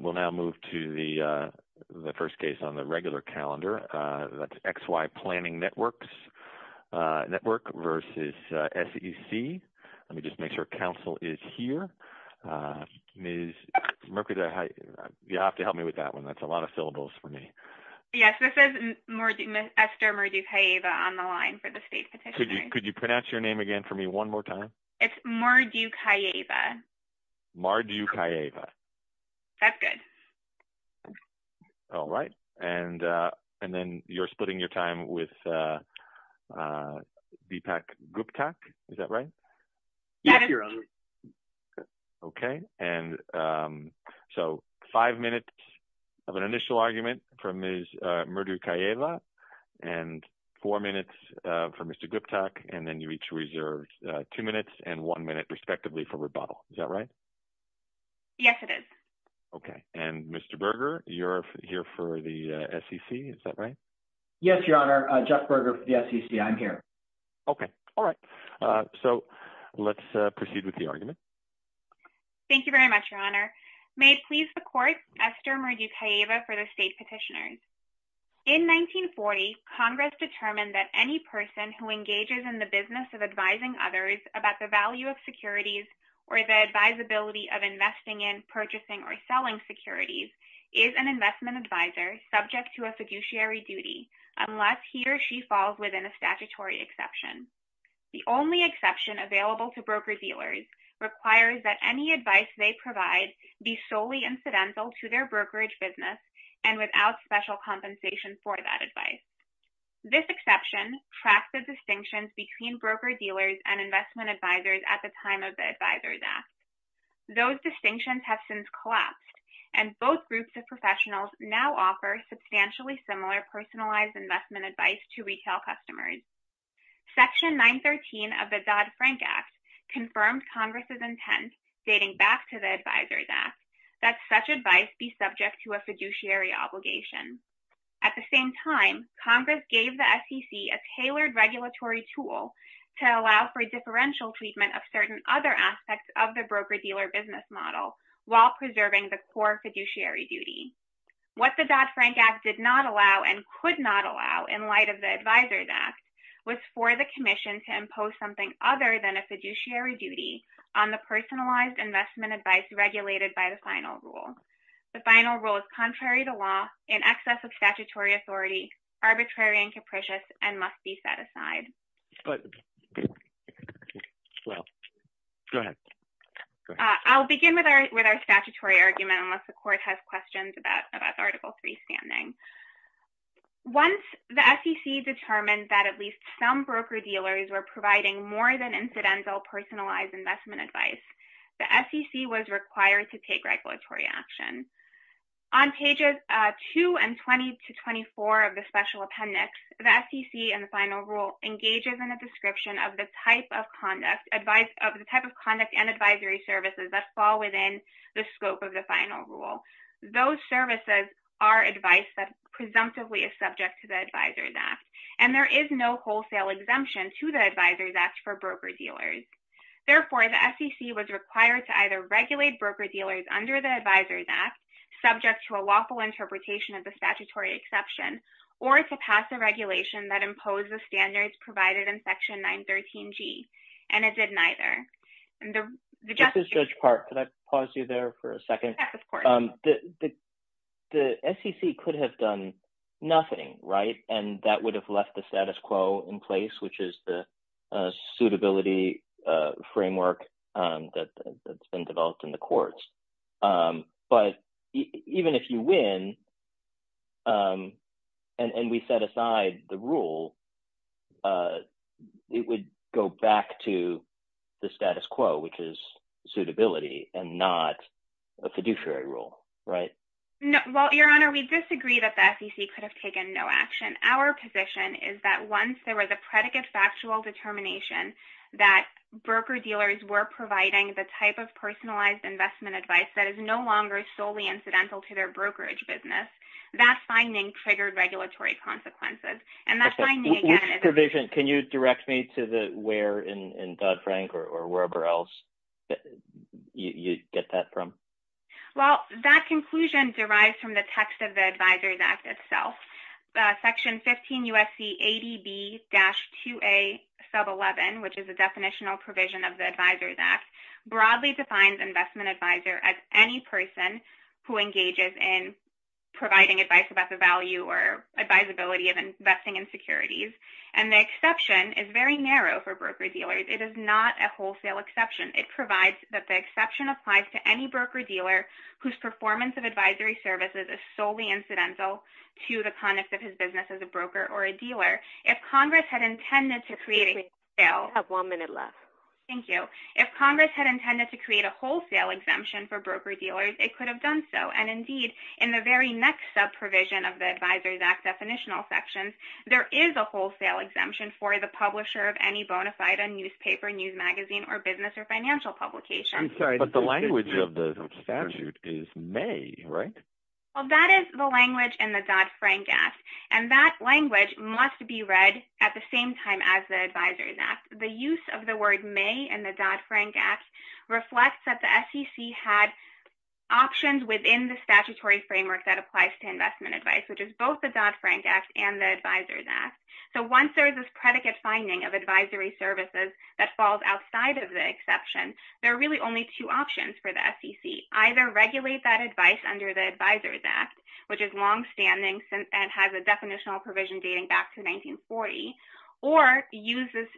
We'll now move to the first case on the regular calendar, that's XY Planning Network v. SEC. Let me just make sure Council is here. Ms. Mercury, you'll have to help me with that one, that's a lot of syllables for me. Yes, this is Esther Mardukieva on the line for the State Petitioner. Could you pronounce your name again for me one more time? It's Mardukieva. Mardukieva. That's good. All right. And then you're splitting your time with BPAC Guptak, is that right? Yes, Your Honor. Okay. And so five minutes of an initial argument from Ms. Mardukieva and four minutes from Mr. Guptak, and then you each reserve two minutes and one minute respectively for rebuttal, is that right? Yes, it is. Okay. And Mr. Berger, you're here for the SEC, is that right? Yes, Your Honor. Jeff Berger for the SEC. I'm here. Okay. All right. So let's proceed with the argument. Thank you very much, Your Honor. May it please the Court, Esther Mardukieva for the State Petitioner. In 1940, Congress determined that any person who engages in the business of advising others about the value of securities or the advisability of investing in, purchasing, or selling securities is an investment advisor subject to a fiduciary duty unless he or she falls within a statutory exception. The only exception available to broker-dealers requires that any advice they provide be solely incidental to their brokerage business and without special compensation for that advice. This exception tracks the distinctions between broker-dealers and investment advisors at the time of the Advisors Act. Those distinctions have since collapsed, and both groups of professionals now offer substantially similar personalized investment advice to retail customers. Section 913 of the Dodd-Frank Act confirmed Congress' intent, dating back to the Advisors Act, that such advice be subject to a fiduciary obligation. At the same time, Congress gave the SEC a tailored regulatory tool to allow for differential treatment of certain other aspects of the broker-dealer business model while preserving the core fiduciary duty. What the Dodd-Frank Act did not allow and could not allow in light of the Advisors Act was for the Commission to impose something other than a fiduciary duty on the personalized investment advice regulated by the final rule. The final rule is contrary to law, in excess of statutory authority, arbitrary and capricious, and must be set aside. I'll begin with our statutory argument, unless the Court has questions about Article III standing. Once the SEC determined that at least some broker-dealers were providing more than incidental personalized investment advice, the SEC was required to take regulatory action. On pages 2 and 20 to 24 of the Special Appendix, the SEC and the final rule engages in a description of the type of conduct and advisory services that fall within the scope of the final rule. Those services are advice that presumptively is subject to the Advisors Act, and there is no wholesale exemption to the Advisors Act for broker-dealers. Therefore, the SEC was required to either regulate broker-dealers under the Advisors Act, subject to a lawful interpretation of the statutory exception, or to pass a regulation that imposed the standards provided in Section 913G, and it did neither. This is Judge Park. Could I pause you there for a second? Yes, of course. The SEC could have done nothing, right, and that would have left the status quo in place, which is the suitability framework that's been developed in the courts. But even if you win and we set aside the rule, it would go back to the status quo, which is suitability and not a fiduciary rule, right? Well, Your Honor, we disagree that the SEC could have taken no action. Our position is that once there was a predicate factual determination that broker-dealers were providing the type of personalized investment advice that is no longer solely incidental to their brokerage business, that finding triggered regulatory consequences. And that finding, again… Which provision? Can you direct me to the where in Dodd-Frank or wherever else you get that from? Well, that conclusion derives from the text of the Advisors Act itself. Section 15 U.S.C. 80B-2A sub 11, which is a definitional provision of the Advisors Act, broadly defines investment advisor as any person who engages in providing advice about the value or advisability of investing in securities. And the exception is very narrow for broker-dealers. It is not a wholesale exception. It provides that the exception applies to any broker-dealer whose performance of advisory services is solely incidental to the conduct of his business as a broker or a dealer. If Congress had intended to create a wholesale… You have one minute left. Thank you. If Congress had intended to create a wholesale exemption for broker-dealers, it could have done so. And indeed, in the very next sub-provision of the Advisors Act definitional section, there is a wholesale exemption for the publisher of any bona fide newspaper, news magazine, or business or financial publication. But the language of the statute is may, right? Well, that is the language in the Dodd-Frank Act. And that language must be read at the same time as the Advisors Act. The use of the word may in the Dodd-Frank Act reflects that the SEC had options within the statutory framework that applies to investment advice, which is both the Dodd-Frank Act and the Advisors Act. So, once there is this predicate finding of advisory services that falls outside of the exception, there are really only two options for the SEC. Either regulate that advice under the Advisors Act, which is longstanding and has a definitional provision dating back to 1940, or use this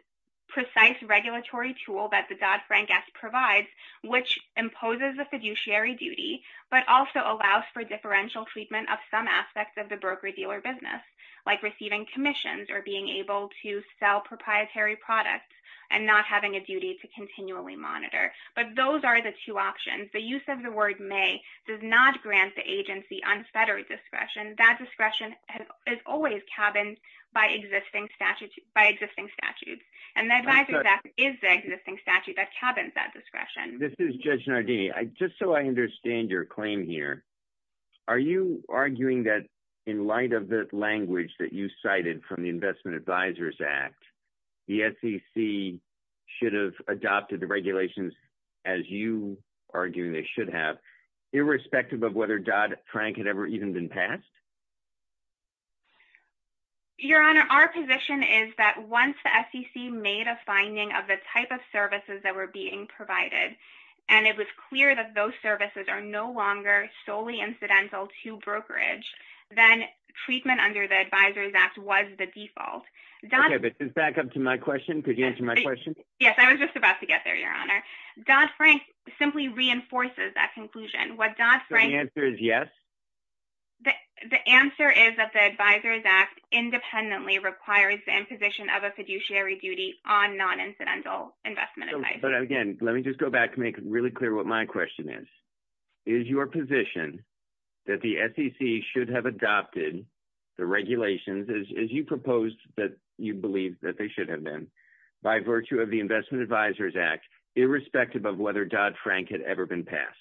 precise regulatory tool that the Dodd-Frank Act provides, which imposes a fiduciary duty, but also allows for differential treatment of some aspects of the broker-dealer business, like receiving commissions or being able to sell proprietary products and not having a duty to continually monitor. But those are the two options. The use of the word may does not grant the agency unfettered discretion. That discretion is always cabined by existing statutes. And the Advisors Act is the existing statute that cabins that discretion. This is Judge Nardini. Just so I understand your claim here, are you arguing that in light of the language that you cited from the Investment Advisors Act, the SEC should have adopted the regulations as you are arguing they should have, irrespective of whether Dodd-Frank had ever even been passed? Your Honor, our position is that once the SEC made a finding of the type of services that were being provided, and it was clear that those services are no longer solely incidental to brokerage, then treatment under the Advisors Act was the default. Okay, but just back up to my question. Could you answer my question? Yes, I was just about to get there, Your Honor. Dodd-Frank simply reinforces that conclusion. So the answer is yes? The answer is that the Advisors Act independently requires the imposition of a fiduciary duty on non-incidental investment advice. But again, let me just go back to make it really clear what my question is. Is your position that the SEC should have adopted the regulations as you proposed that you believe that they should have been, by virtue of the Investment Advisors Act, irrespective of whether Dodd-Frank had ever been passed?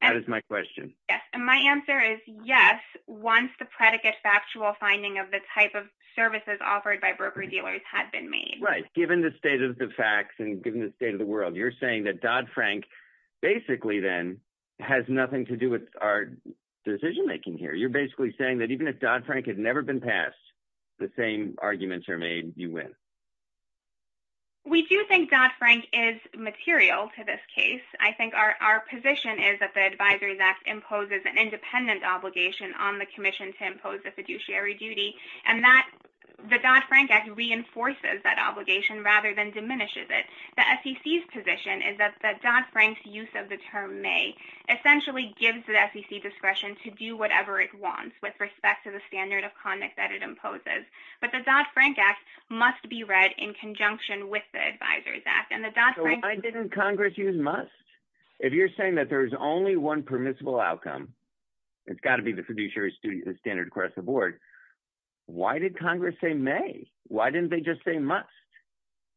That is my question. Yes, and my answer is yes, once the predicate factual finding of the type of services offered by broker-dealers had been made. Right. Given the state of the facts and given the state of the world, you're saying that Dodd-Frank basically then has nothing to do with our decision-making here. You're basically saying that even if Dodd-Frank had never been passed, the same arguments are made, you win. We do think Dodd-Frank is material to this case. I think our position is that the Advisors Act imposes an independent obligation on the commission to impose a fiduciary duty, and the Dodd-Frank Act reinforces that obligation rather than diminishes it. The SEC's position is that Dodd-Frank's use of the term may essentially gives the SEC discretion to do whatever it wants with respect to the standard of conduct that it imposes. But the Dodd-Frank Act must be read in conjunction with the Advisors Act. So why didn't Congress use must? If you're saying that there's only one permissible outcome, it's got to be the fiduciary standard across the board, why did Congress say may? Why didn't they just say must?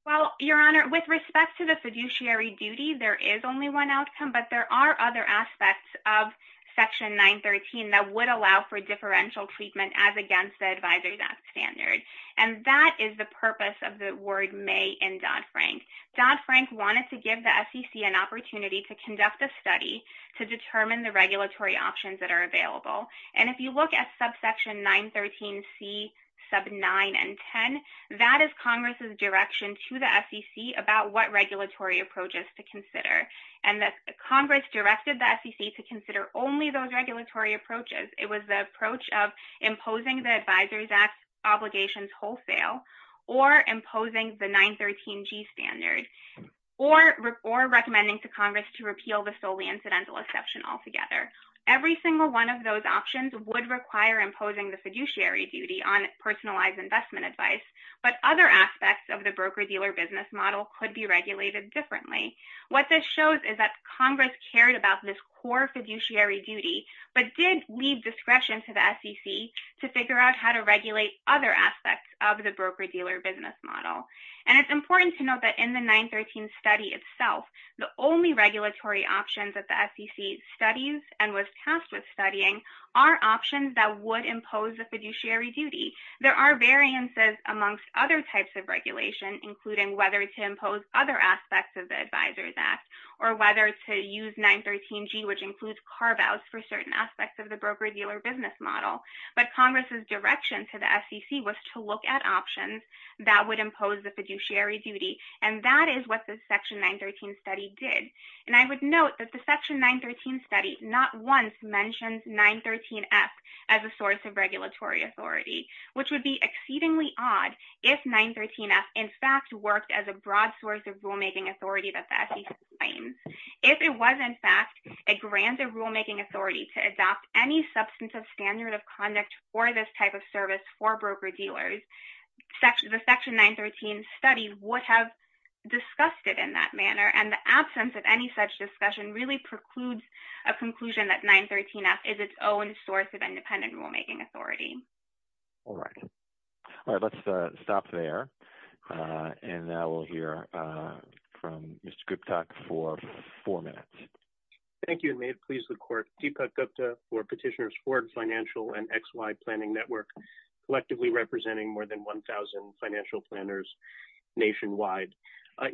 Well, Your Honor, with respect to the fiduciary duty, there is only one outcome, but there are other aspects of Section 913 that would allow for differential treatment as against the Advisors Act standard. And that is the purpose of the word may in Dodd-Frank. Dodd-Frank wanted to give the SEC an opportunity to conduct a study to determine the regulatory options that are available. And if you look at subsection 913C, sub 9 and 10, that is Congress's direction to the SEC about what regulatory approaches to consider. And Congress directed the SEC to consider only those regulatory approaches. It was the approach of imposing the Advisors Act obligations wholesale or imposing the 913G standard or recommending to Congress to repeal the solely incidental exception altogether. Every single one of those options would require imposing the fiduciary duty on personalized investment advice. But other aspects of the broker-dealer business model could be regulated differently. What this shows is that Congress cared about this core fiduciary duty but did leave discretion to the SEC to figure out how to regulate other aspects of the broker-dealer business model. And it's important to note that in the 913 study itself, the only regulatory options that the SEC studies and was tasked with studying are options that would impose the fiduciary duty. There are variances amongst other types of regulation, including whether to impose other aspects of the Advisors Act or whether to use 913G, which includes carve-outs for certain aspects of the broker-dealer business model. But Congress's direction to the SEC was to look at options that would impose the fiduciary duty. And that is what the section 913 study did. And I would note that the section 913 study not once mentioned 913F as a source of regulatory authority, which would be exceedingly odd if 913F in fact worked as a broad source of rulemaking authority that the SEC claims. If it was in fact a grander rulemaking authority to adopt any substantive standard of conduct for this type of service for broker-dealers, the section 913 study would have discussed it in that manner. And the absence of any such discussion really precludes a conclusion that 913F is its own source of independent rulemaking authority. All right. Let's stop there. And now we'll hear from Mr. Gupta for four minutes. Thank you, and may it please the Court, Deepak Gupta for Petitioners Ford Financial and XY Planning Network, collectively representing more than 1,000 financial planners nationwide.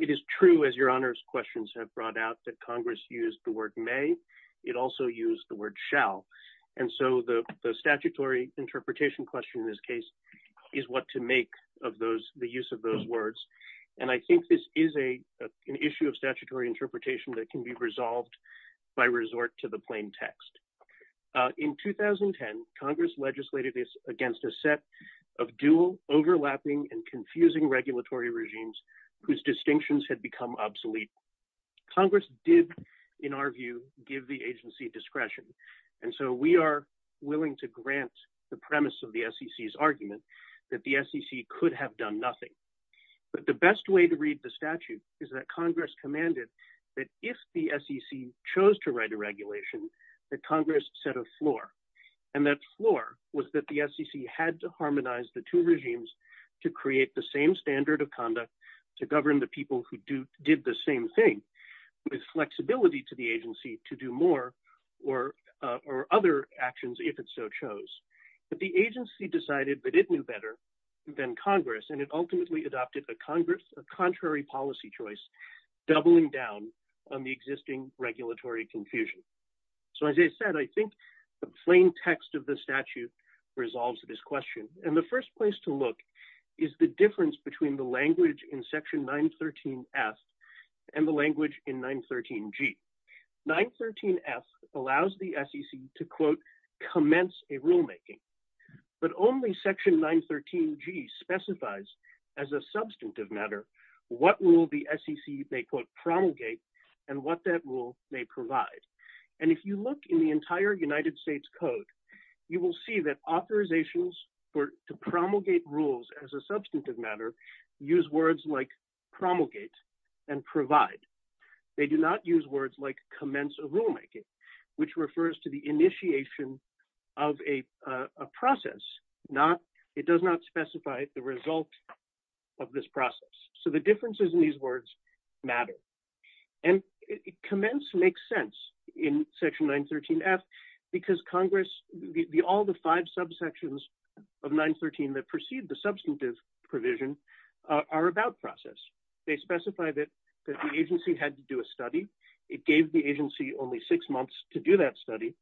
It is true, as Your Honor's questions have brought out, that Congress used the word may. It also used the word shall. And so the statutory interpretation question in this case is what to make of the use of those words. And I think this is an issue of statutory interpretation that can be resolved by resort to the plain text. In 2010, Congress legislated against a set of dual overlapping and confusing regulatory regimes whose distinctions had become obsolete. Congress did, in our view, give the agency discretion. And so we are willing to grant the premise of the SEC's argument that the SEC could have done nothing. But the best way to read the statute is that Congress commanded that if the SEC chose to write a regulation, that Congress set a floor. And that floor was that the SEC had to harmonize the two regimes to create the same standard of conduct to govern the people who did the same thing, with flexibility to the agency to do more or other actions if it so chose. But the agency decided that it knew better than Congress, and it ultimately adopted a contrary policy choice, doubling down on the existing regulatory confusion. So as I said, I think the plain text of the statute resolves this question. And the first place to look is the difference between the language in Section 913 F and the language in 913 G. 913 F allows the SEC to, quote, commence a rulemaking, but only Section 913 G specifies as a substantive matter, what rule the SEC may, quote, promulgate and what that rule may provide. And if you look in the entire United States Code, you will see that authorizations to promulgate rules as a substantive matter use words like promulgate and provide. They do not use words like commence a rulemaking, which refers to the initiation of a process. It does not specify the result of this process. So the differences in these words matter. And commence makes sense in Section 913 F because Congress, all the five subsections of 913 that precede the substantive provision are about process. They specify that the agency had to do a study. It gave the agency only six months to do that study.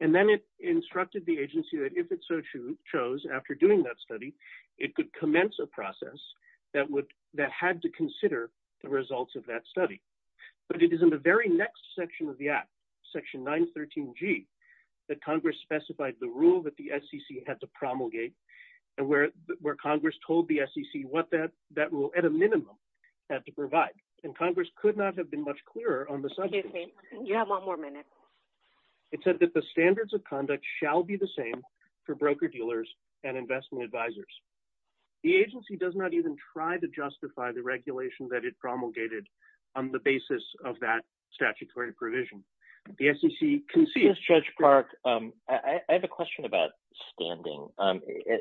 And then it instructed the agency that if it so chose, after doing that study, it could commence a process that would, that had to consider the results of that study. But it is in the very next section of the Act, Section 913 G, that Congress specified the rule that the SEC had to promulgate and where Congress told the SEC what that rule, at a minimum, had to provide. And Congress could not have been much clearer on the subject. It said that the standards of conduct shall be the same for broker-dealers and investment advisors. The agency does not even try to justify the regulation that it promulgated on the basis of that statutory provision. The SEC concedes. I have a question about standing.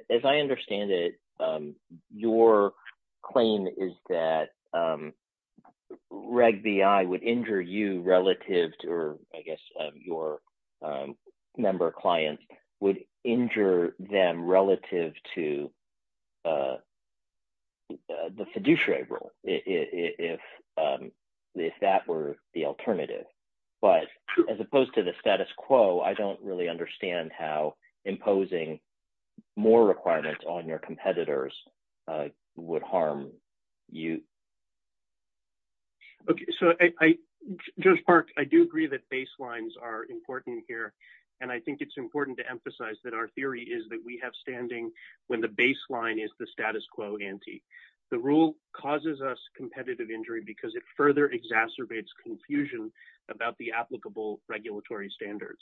As I understand it, your claim is that Reg B.I. would injure you relative to, or I guess your member clients would injure them relative to the fiduciary rule if that were the alternative. But as opposed to the status quo, I don't really understand how imposing more requirements on your competitors would harm you. Okay, so I, Judge Park, I do agree that baselines are important here. And I think it's important to emphasize that our theory is that we have standing when the baseline is the status quo ante. The rule causes us competitive injury because it further exacerbates confusion about the applicable regulatory standards.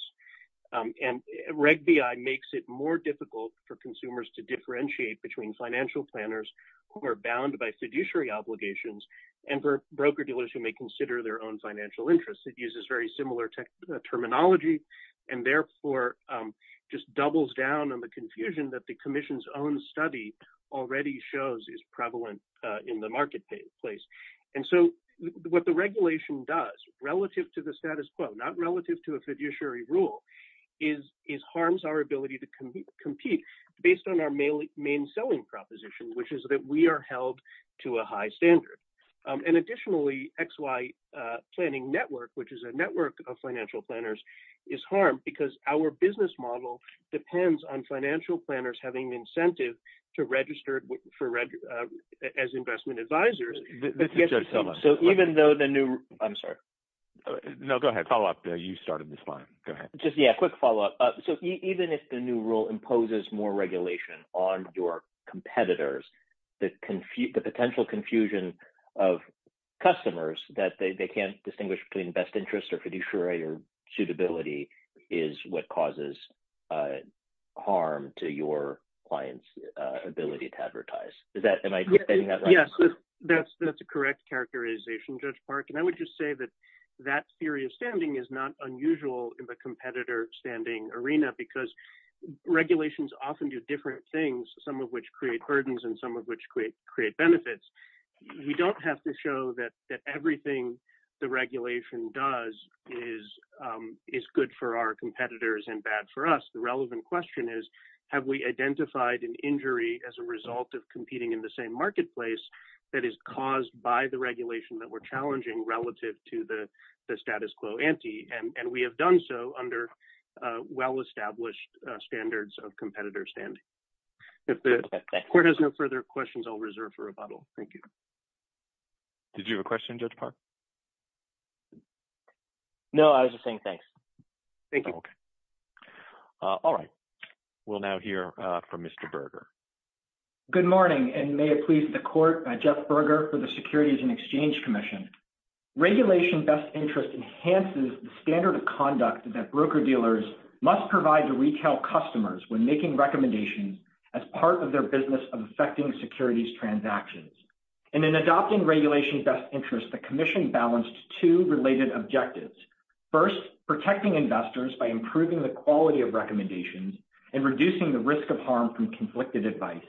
And Reg B.I. makes it more difficult for consumers to differentiate between financial planners who are bound by fiduciary obligations and for broker-dealers who may consider their own financial interests. It uses very similar terminology and therefore just doubles down on the confusion that the Commission's own study already shows is prevalent in the marketplace. And so what the regulation does relative to the status quo, not relative to a fiduciary rule, is harms our ability to compete based on our main selling proposition, which is that we are held to a high standard. And additionally, XY Planning Network, which is a network of financial planners, is harmed because our business model depends on financial planners having incentive to register as investment advisors. So even though the new – I'm sorry. No, go ahead. Follow-up. You started this line. Go ahead. Just, yeah, quick follow-up. So even if the new rule imposes more regulation on your competitors, the potential confusion of customers that they can't distinguish between best interest or fiduciary suitability is what causes harm to your clients' ability to advertise. Is that – am I getting that right? Yes, that's a correct characterization, Judge Park. And I would just say that that theory of standing is not unusual in the competitor standing arena because regulations often do different things, some of which create burdens and some of which create benefits. We don't have to show that everything the regulation does is good for our competitors and bad for us. The relevant question is, have we identified an injury as a result of competing in the same marketplace that is caused by the regulation that we're challenging relative to the status quo ante? And we have done so under well-established standards of competitor standing. If the court has no further questions, I'll reserve for rebuttal. Thank you. Did you have a question, Judge Park? No, I was just saying thanks. Thank you. All right. We'll now hear from Mr. Berger. Good morning, and may it please the court, Jeff Berger for the Securities and Exchange Commission. Regulation best interest enhances the standard of conduct that broker-dealers must provide to retail customers when making recommendations as part of their business of effecting securities transactions. In adopting regulation best interest, the commission balanced two related objectives. First, protecting investors by improving the quality of recommendations and reducing the risk of harm from conflicted advice.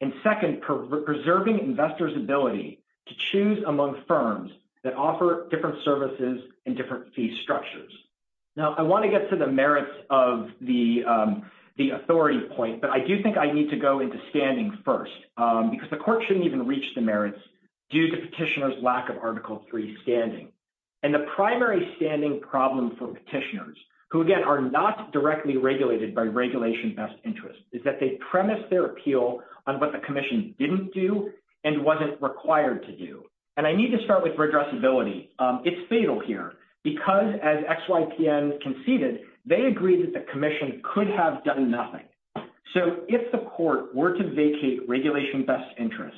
And second, preserving investors' ability to choose among firms that offer different services and different fee structures. Now, I want to get to the merits of the authority point, but I do think I need to go into standing first, because the court shouldn't even reach the merits due to petitioner's lack of Article III standing. And the primary standing problem for petitioners, who, again, are not directly regulated by regulation best interest, is that they premise their appeal on what the commission didn't do and wasn't required to do. And I need to start with regressibility. It's fatal here, because as XYPN conceded, they agreed that the commission could have done nothing. So, if the court were to vacate regulation best interest,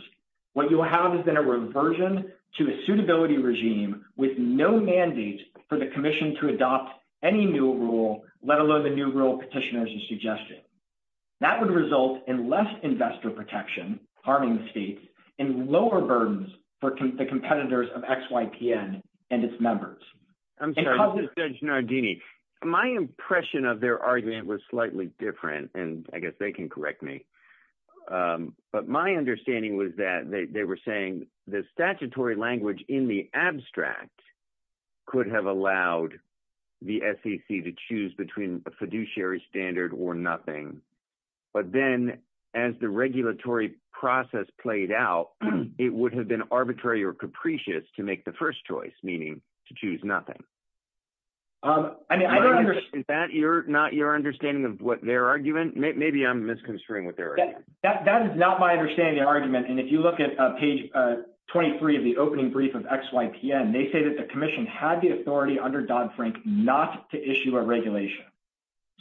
what you'll have is then a reversion to a suitability regime with no mandate for the commission to adopt any new rule, let alone the new rule petitioners have suggested. That would result in less investor protection, harming the state, and lower burdens for the competitors of XYPN and its members. I'm sorry, Justice Judge Nardini. My impression of their argument was slightly different, and I guess they can correct me. But my understanding was that they were saying the statutory language in the abstract could have allowed the SEC to choose between a fiduciary standard or nothing. But then, as the regulatory process played out, it would have been arbitrary or capricious to make the first choice, meaning to choose nothing. Is that not your understanding of what their argument? Maybe I'm misconstruing what their argument is. That is not my understanding of the argument. And if you look at page 23 of the opening brief of XYPN, they say that the commission had the authority under Dodd-Frank not to issue a regulation.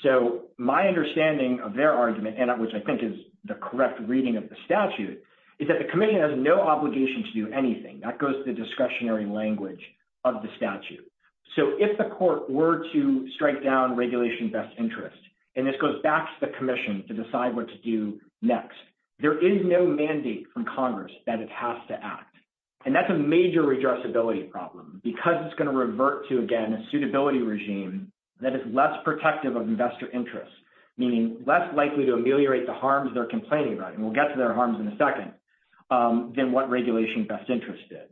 So my understanding of their argument, which I think is the correct reading of the statute, is that the commission has no obligation to do anything. That goes to the discretionary language of the statute. So if the court were to strike down regulation best interest, and this goes back to the commission to decide what to do next, there is no mandate from Congress that it has to act. And that's a major redressability problem, because it's going to revert to, again, a suitability regime that is less protective of investor interests, meaning less likely to ameliorate the harms they're complaining about, and we'll get to their harms in a second, than what regulation best interest did.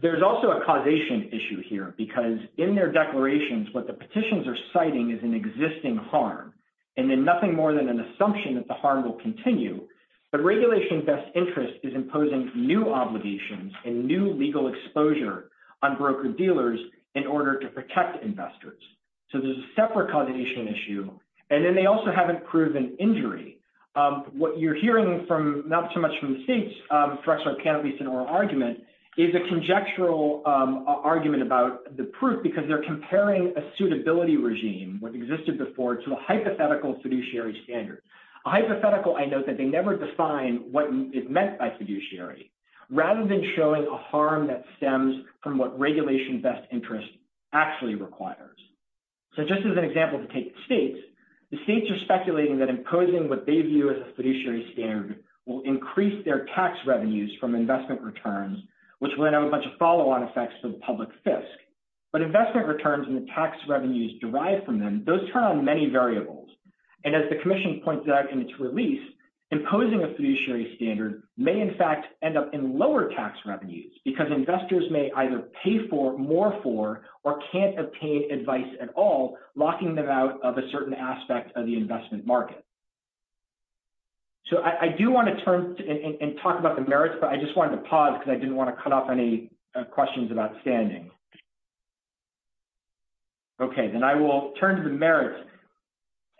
There's also a causation issue here, because in their declarations, what the petitions are citing is an existing harm, and then nothing more than an assumption that the harm will continue. But regulation best interest is imposing new obligations and new legal exposure on broker-dealers in order to protect investors. So there's a separate causation issue. And then they also haven't proven injury. What you're hearing from, not so much from the states, for example, in a recent oral argument, is a conjectural argument about the proof, because they're comparing a suitability regime, what existed before, to a hypothetical fiduciary standard. A hypothetical, I note, that they never define what is meant by fiduciary, rather than showing a harm that stems from what regulation best interest actually requires. So just as an example to take the states, the states are speculating that imposing what they view as a fiduciary standard will increase their tax revenues from investment returns, which will have a bunch of follow-on effects from public fisc. But investment returns and the tax revenues derived from them, those turn on many variables. And as the commission pointed out in its release, imposing a fiduciary standard may, in fact, end up in lower tax revenues, because investors may either pay more for or can't obtain advice at all, locking them out of a certain aspect of the investment market. So I do want to turn and talk about the merits, but I just wanted to pause because I didn't want to cut off any questions about standing. Okay, then I will turn to the merits.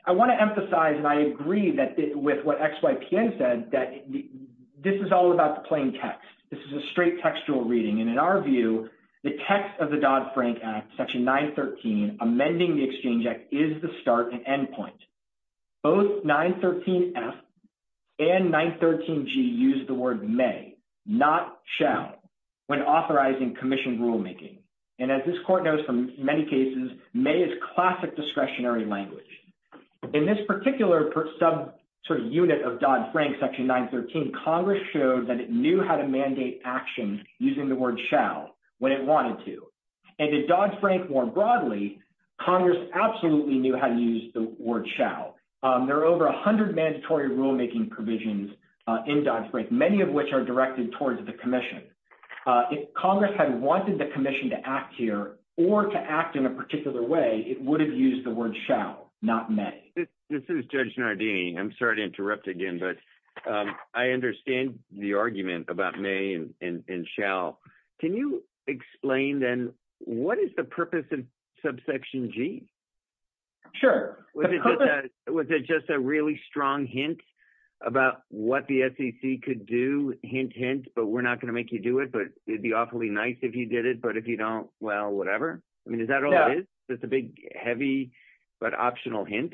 I want to emphasize, and I agree with what XYPN said, that this is all about the plain text. This is a straight textual reading, and in our view, the text of the Dodd-Frank Act, Section 913, amending the Exchange Act, is the start and end point. Both 913F and 913G use the word may, not shall, when authorizing commission rulemaking. And as this Court knows from many cases, may is classic discretionary language. In this particular sub-unit of Dodd-Frank, Section 913, Congress showed that it knew how to mandate action using the word shall when it wanted to. And in Dodd-Frank more broadly, Congress absolutely knew how to use the word shall. There are over 100 mandatory rulemaking provisions in Dodd-Frank, many of which are directed towards the commission. If Congress had wanted the commission to act here or to act in a particular way, it would have used the word shall, not may. This is Judge Nardini. I'm sorry to interrupt again, but I understand the argument about may and shall. Can you explain then what is the purpose of Subsection G? Sure. Was it just a really strong hint about what the SEC could do, hint, hint, but we're not going to make you do it, but it'd be awfully nice if you did it, but if you don't, well, whatever? I mean, is that all it is? No. Just a big, heavy, but optional hint?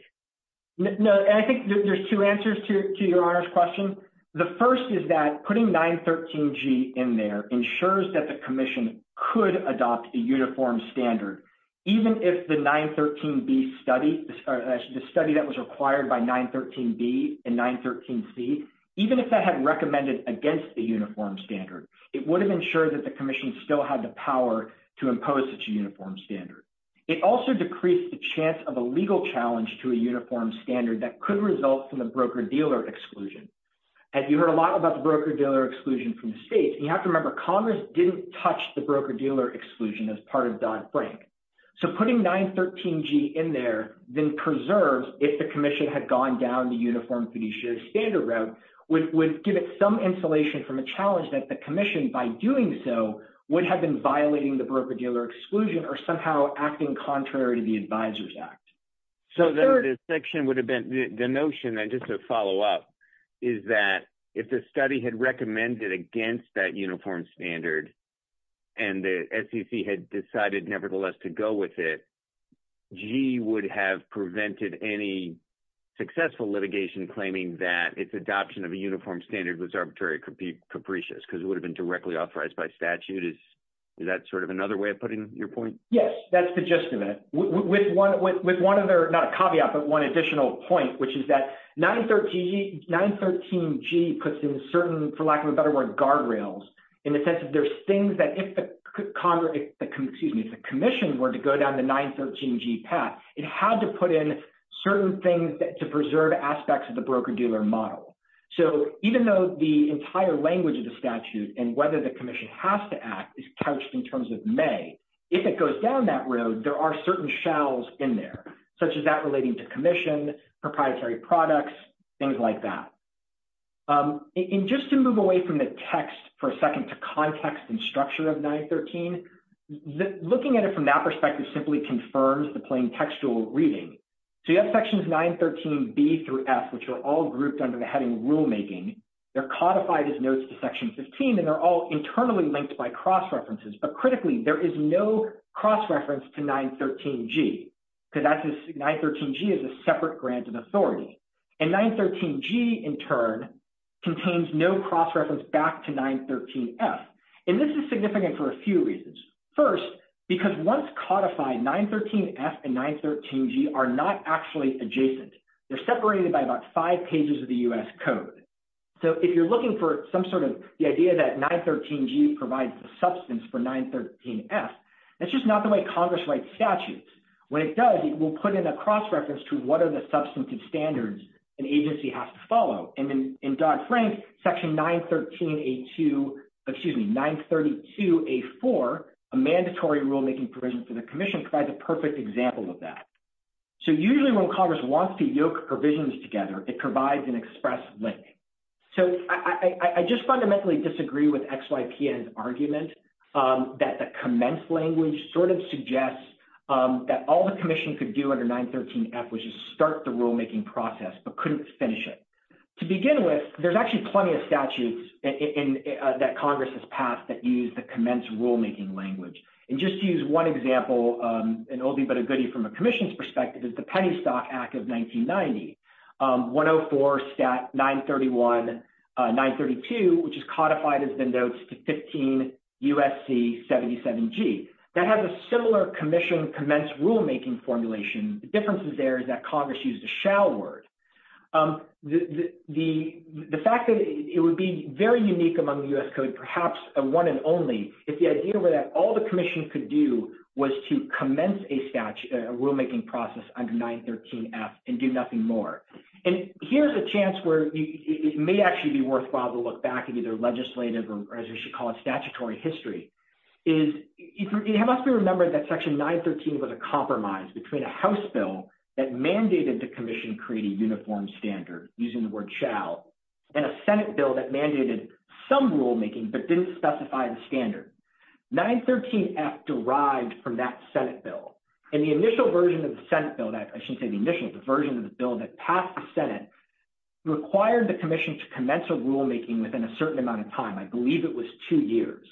No, and I think there's two answers to your Honor's question. The first is that putting 913G in there ensures that the commission could adopt a uniform standard, even if the 913B study, the study that was required by 913B and 913C, even if that had recommended against the uniform standard, it would have ensured that the commission still had the power to impose its uniform standard. It also decreased the chance of a legal challenge to a uniform standard that could result from the broker-dealer exclusion. As you heard a lot about the broker-dealer exclusion from the states, you have to remember Congress didn't touch the broker-dealer exclusion as part of Dodd-Frank. So putting 913G in there then preserves, if the commission had gone down the uniform fiduciary standard route, would give it some insulation from a challenge that the commission, by doing so, would have been violating the broker-dealer exclusion or somehow acting contrary to the Advisors Act. So the notion, just to follow up, is that if the study had recommended against that uniform standard and the SEC had decided nevertheless to go with it, G would have prevented any successful litigation claiming that its adoption of a uniform standard was arbitrary capricious because it would have been directly authorized by statute. Is that sort of another way of putting your point? Yes, that's the gist of it. With one other, not a caveat, but one additional point, which is that 913G puts in certain, for lack of a better word, guardrails, in the sense that there's things that if the commission were to go down the 913G path, it had to put in certain things to preserve aspects of the broker-dealer model. So even though the entire language of the statute and whether the commission has to act is couched in terms of may, if it goes down that road, there are certain shells in there, such as that relating to commission, proprietary products, things like that. And just to move away from the text for a second to context and structure of 913, looking at it from that perspective simply confirms the plain textual reading. So you have sections 913B through F, which are all grouped under the heading rulemaking. They're codified as notes to section 15, and they're all internally linked by cross-references. But critically, there is no cross-reference to 913G because 913G is a separate grant of authority. And 913G, in turn, contains no cross-reference back to 913F. And this is significant for a few reasons. First, because once codified, 913F and 913G are not actually adjacent. They're separated by about five pages of the U.S. Code. So if you're looking for some sort of the idea that 913G provides the substance for 913F, that's just not the way Congress writes statutes. When it does, it will put in a cross-reference to what are the substantive standards an agency has to follow. And in Dodd-Frank, Section 932A4, a mandatory rulemaking provision for the commission, provides a perfect example of that. So usually when Congress wants to yoke provisions together, it provides an express link. So I just fundamentally disagree with XYPN's argument that the commence language sort of suggests that all the commission could do under 913F was just start the rulemaking process but couldn't finish it. To begin with, there's actually plenty of statutes that Congress has passed that use the commence rulemaking language. And just to use one example, an oldie but a goodie from a commission's perspective, is the Pennystock Act of 1990. 104 Stat 931, 932, which is codified as the notes to 15 U.S.C. 77G. That has a similar commission commence rulemaking formulation. The difference there is that Congress used a shall word. The fact that it would be very unique among the U.S. Code, perhaps a one and only, if the idea were that all the commission could do was to commence a rulemaking process under 913F and do nothing more. And here's a chance where it may actually be worthwhile to look back at either legislative or, as you should call it, statutory history. It must be remembered that Section 913 was a compromise between a House bill that mandated the commission create a uniform standard, using the word shall, and a Senate bill that mandated some rulemaking but didn't specify the standard. 913F derived from that Senate bill. And the initial version of the Senate bill, I shouldn't say the initial, the version of the bill that passed the Senate required the commission to commence a rulemaking within a certain amount of time. I believe it was two years.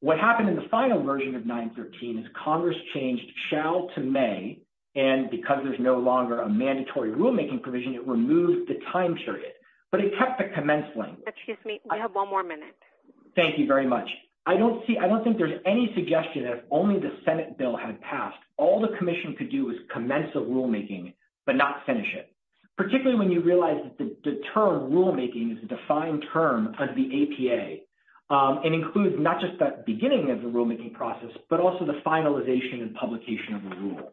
What happened in the final version of 913 is Congress changed shall to may, and because there's no longer a mandatory rulemaking provision, it removed the time period. But it kept the commence language. Excuse me, we have one more minute. Thank you very much. I don't see, I don't think there's any suggestion that if only the Senate bill had passed, all the commission could do is commence a rulemaking, but not finish it. Particularly when you realize that the term rulemaking is a defined term of the APA, and includes not just that beginning of the rulemaking process, but also the finalization and publication of the rule.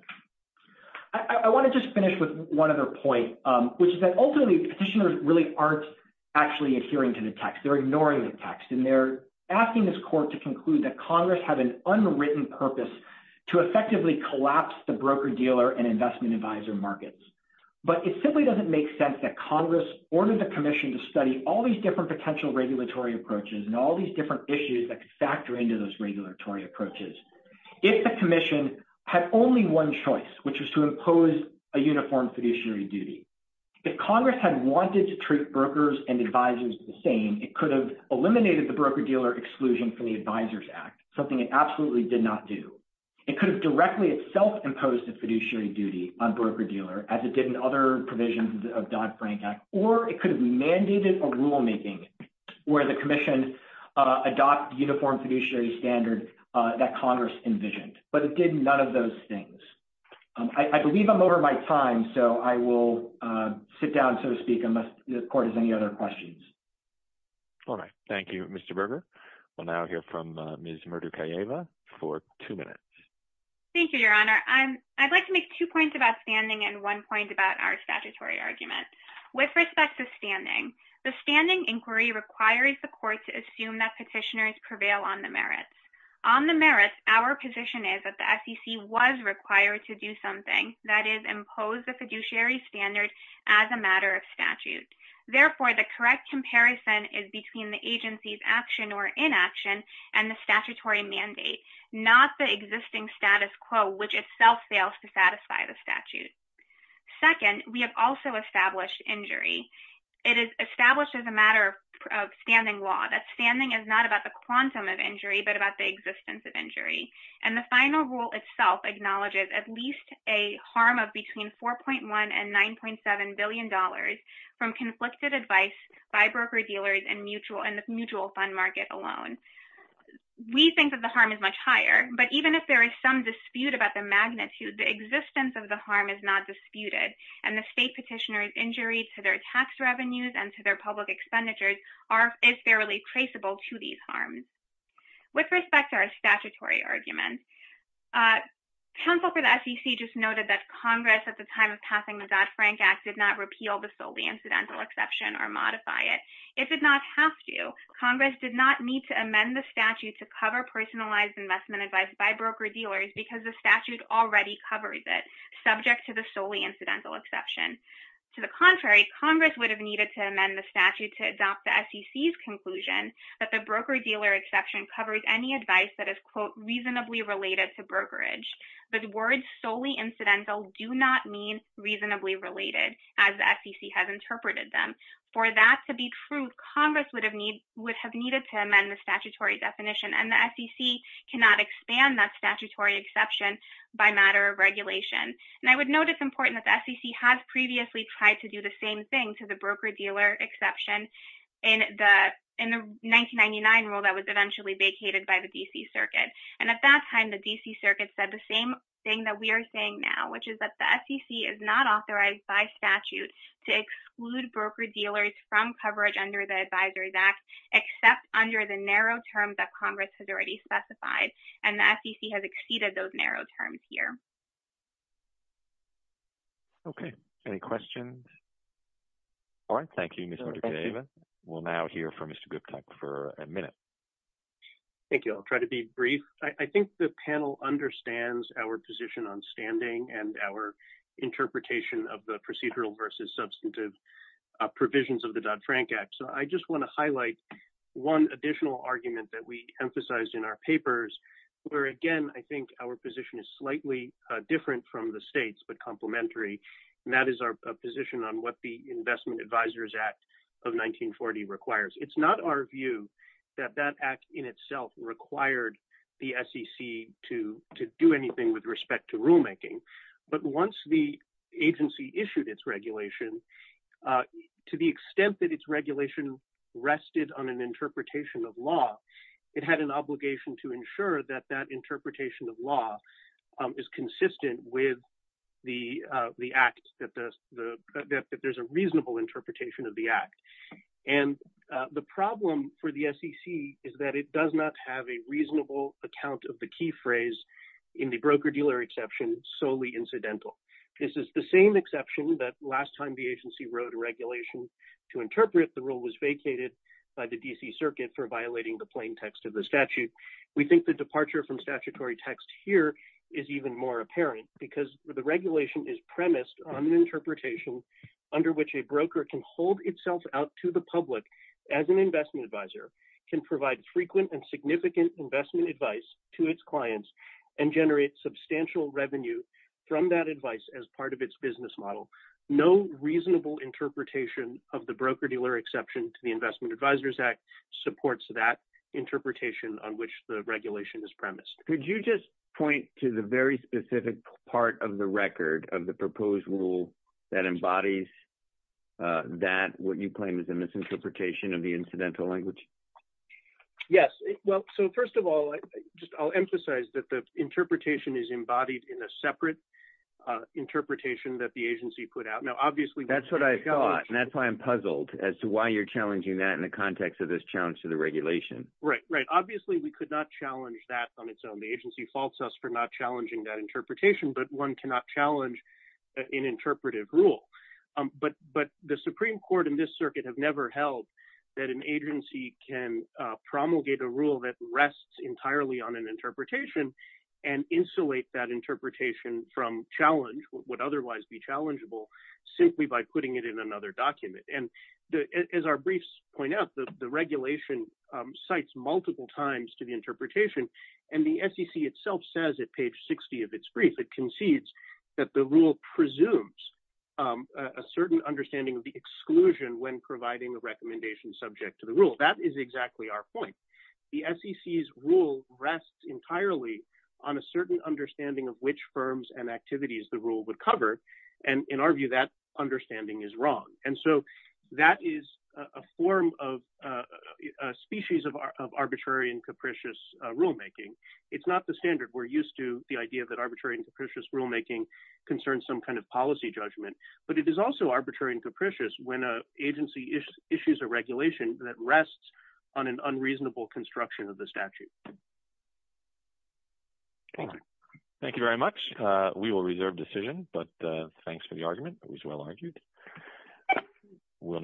I want to just finish with one other point, which is that ultimately petitioners really aren't actually adhering to the text. They're ignoring the text. And they're asking this court to conclude that Congress had an unwritten purpose to effectively collapse the broker-dealer and investment advisor markets. But it simply doesn't make sense that Congress ordered the commission to study all these different potential regulatory approaches and all these different issues that could factor into those regulatory approaches. If the commission had only one choice, which was to impose a uniform fiduciary duty, if Congress had wanted to treat brokers and advisors the same, it could have eliminated the broker-dealer exclusion from the Advisors Act, something it absolutely did not do. It could have directly itself imposed a fiduciary duty on broker-dealer, as it did in other provisions of Dodd-Frank Act, or it could have mandated a rulemaking where the commission adopted uniform fiduciary standard that Congress envisioned. But it did none of those things. I believe I'm over my time, so I will sit down, so to speak, unless the court has any other questions. All right. Thank you, Mr. Berger. We'll now hear from Ms. Murdukayeva for two minutes. Thank you, Your Honor. I'd like to make two points about standing and one point about our statutory argument. With respect to standing, the standing inquiry requires the court to assume that petitioners prevail on the merits. On the merits, our position is that the SEC was required to do something, that is, impose the fiduciary standard as a matter of statute. Therefore, the correct comparison is between the agency's action or inaction and the statutory mandate, not the existing status quo, which itself fails to satisfy the statute. Second, we have also established injury. It is established as a matter of standing law that standing is not about the quantum of injury but about the existence of injury. And the final rule itself acknowledges at least a harm of between $4.1 and $9.7 billion from conflicted advice by broker-dealers and the mutual fund market alone. We think that the harm is much higher, but even if there is some dispute about the magnitude, the existence of the harm is not disputed, and the state petitioner's injury to their tax revenues and to their public expenditures is fairly traceable to these harms. With respect to our statutory argument, counsel for the SEC just noted that Congress at the time of passing the Dodd-Frank Act did not repeal the solely incidental exception or modify it. It did not have to. Congress did not need to amend the statute to cover personalized investment advice by broker-dealers because the statute already covered it, subject to the solely incidental exception. To the contrary, Congress would have needed to amend the statute to adopt the SEC's conclusion that the broker-dealer exception covers any advice that is, quote, reasonably related to brokerage. But words solely incidental do not mean reasonably related, as the SEC has interpreted them. For that to be true, Congress would have needed to amend the statutory definition, and the SEC cannot expand that statutory exception by matter of regulation. And I would note it's important that the SEC has previously tried to do the same thing to the broker-dealer exception in the 1999 rule that was eventually vacated by the D.C. Circuit. And at that time, the D.C. Circuit said the same thing that we are saying now, which is that the SEC is not authorized by statute to exclude broker-dealers from coverage under the Advisories Act, except under the narrow terms that Congress has already specified, and the SEC has exceeded those narrow terms here. Okay. Any questions? All right. Thank you, Ms. Mordocay. We'll now hear from Mr. Guptak for a minute. Thank you. I'll try to be brief. I think the panel understands our position on standing and our interpretation of the procedural versus substantive provisions of the Dodd-Frank Act. So I just want to highlight one additional argument that we emphasized in our papers, where, again, I think our position is slightly different from the state's but complementary, and that is our position on what the Investment Advisors Act of 1940 requires. It's not our view that that act in itself required the SEC to do anything with respect to rulemaking. But once the agency issued its regulation, to the extent that its regulation rested on an interpretation of law, it had an obligation to ensure that that interpretation of law is consistent with the act, that there's a reasonable interpretation of the act. And the problem for the SEC is that it does not have a reasonable account of the key phrase in the broker-dealer exception solely incidental. This is the same exception that last time the agency wrote a regulation to interpret the rule was vacated by the D.C. Circuit for violating the plain text of the statute. We think the departure from statutory text here is even more apparent because the regulation is premised on an interpretation under which a broker can hold itself out to the public as an investment advisor, can provide frequent and significant investment advice to its clients, and generate substantial revenue from that advice as part of its business model. No reasonable interpretation of the broker-dealer exception to the Investment Advisors Act supports that interpretation on which the regulation is premised. Could you just point to the very specific part of the record of the proposed rule that embodies that, what you claim is a misinterpretation of the incidental language? Yes. Well, so first of all, I'll emphasize that the interpretation is embodied in a separate interpretation that the agency put out. Now, obviously— That's what I thought, and that's why I'm puzzled as to why you're challenging that in the context of this challenge to the regulation. Right, right. Obviously, we could not challenge that on its own. The agency faults us for not challenging that interpretation, but one cannot challenge an interpretive rule. But the Supreme Court and this circuit have never held that an agency can promulgate a rule that rests entirely on an interpretation and insulate that interpretation from challenge, what would otherwise be challengeable, simply by putting it in another document. As our briefs point out, the regulation cites multiple times to the interpretation, and the SEC itself says at page 60 of its brief, it concedes that the rule presumes a certain understanding of the exclusion when providing a recommendation subject to the rule. That is exactly our point. The SEC's rule rests entirely on a certain understanding of which firms and activities the rule would cover, and in our view, that understanding is wrong. And so that is a form of—a species of arbitrary and capricious rulemaking. It's not the standard we're used to, the idea that arbitrary and capricious rulemaking concerns some kind of policy judgment, but it is also arbitrary and capricious when an agency issues a regulation that rests on an unreasonable construction of the statute. Thank you very much. We will reserve decision, but thanks for the argument. It was well argued. Thank you.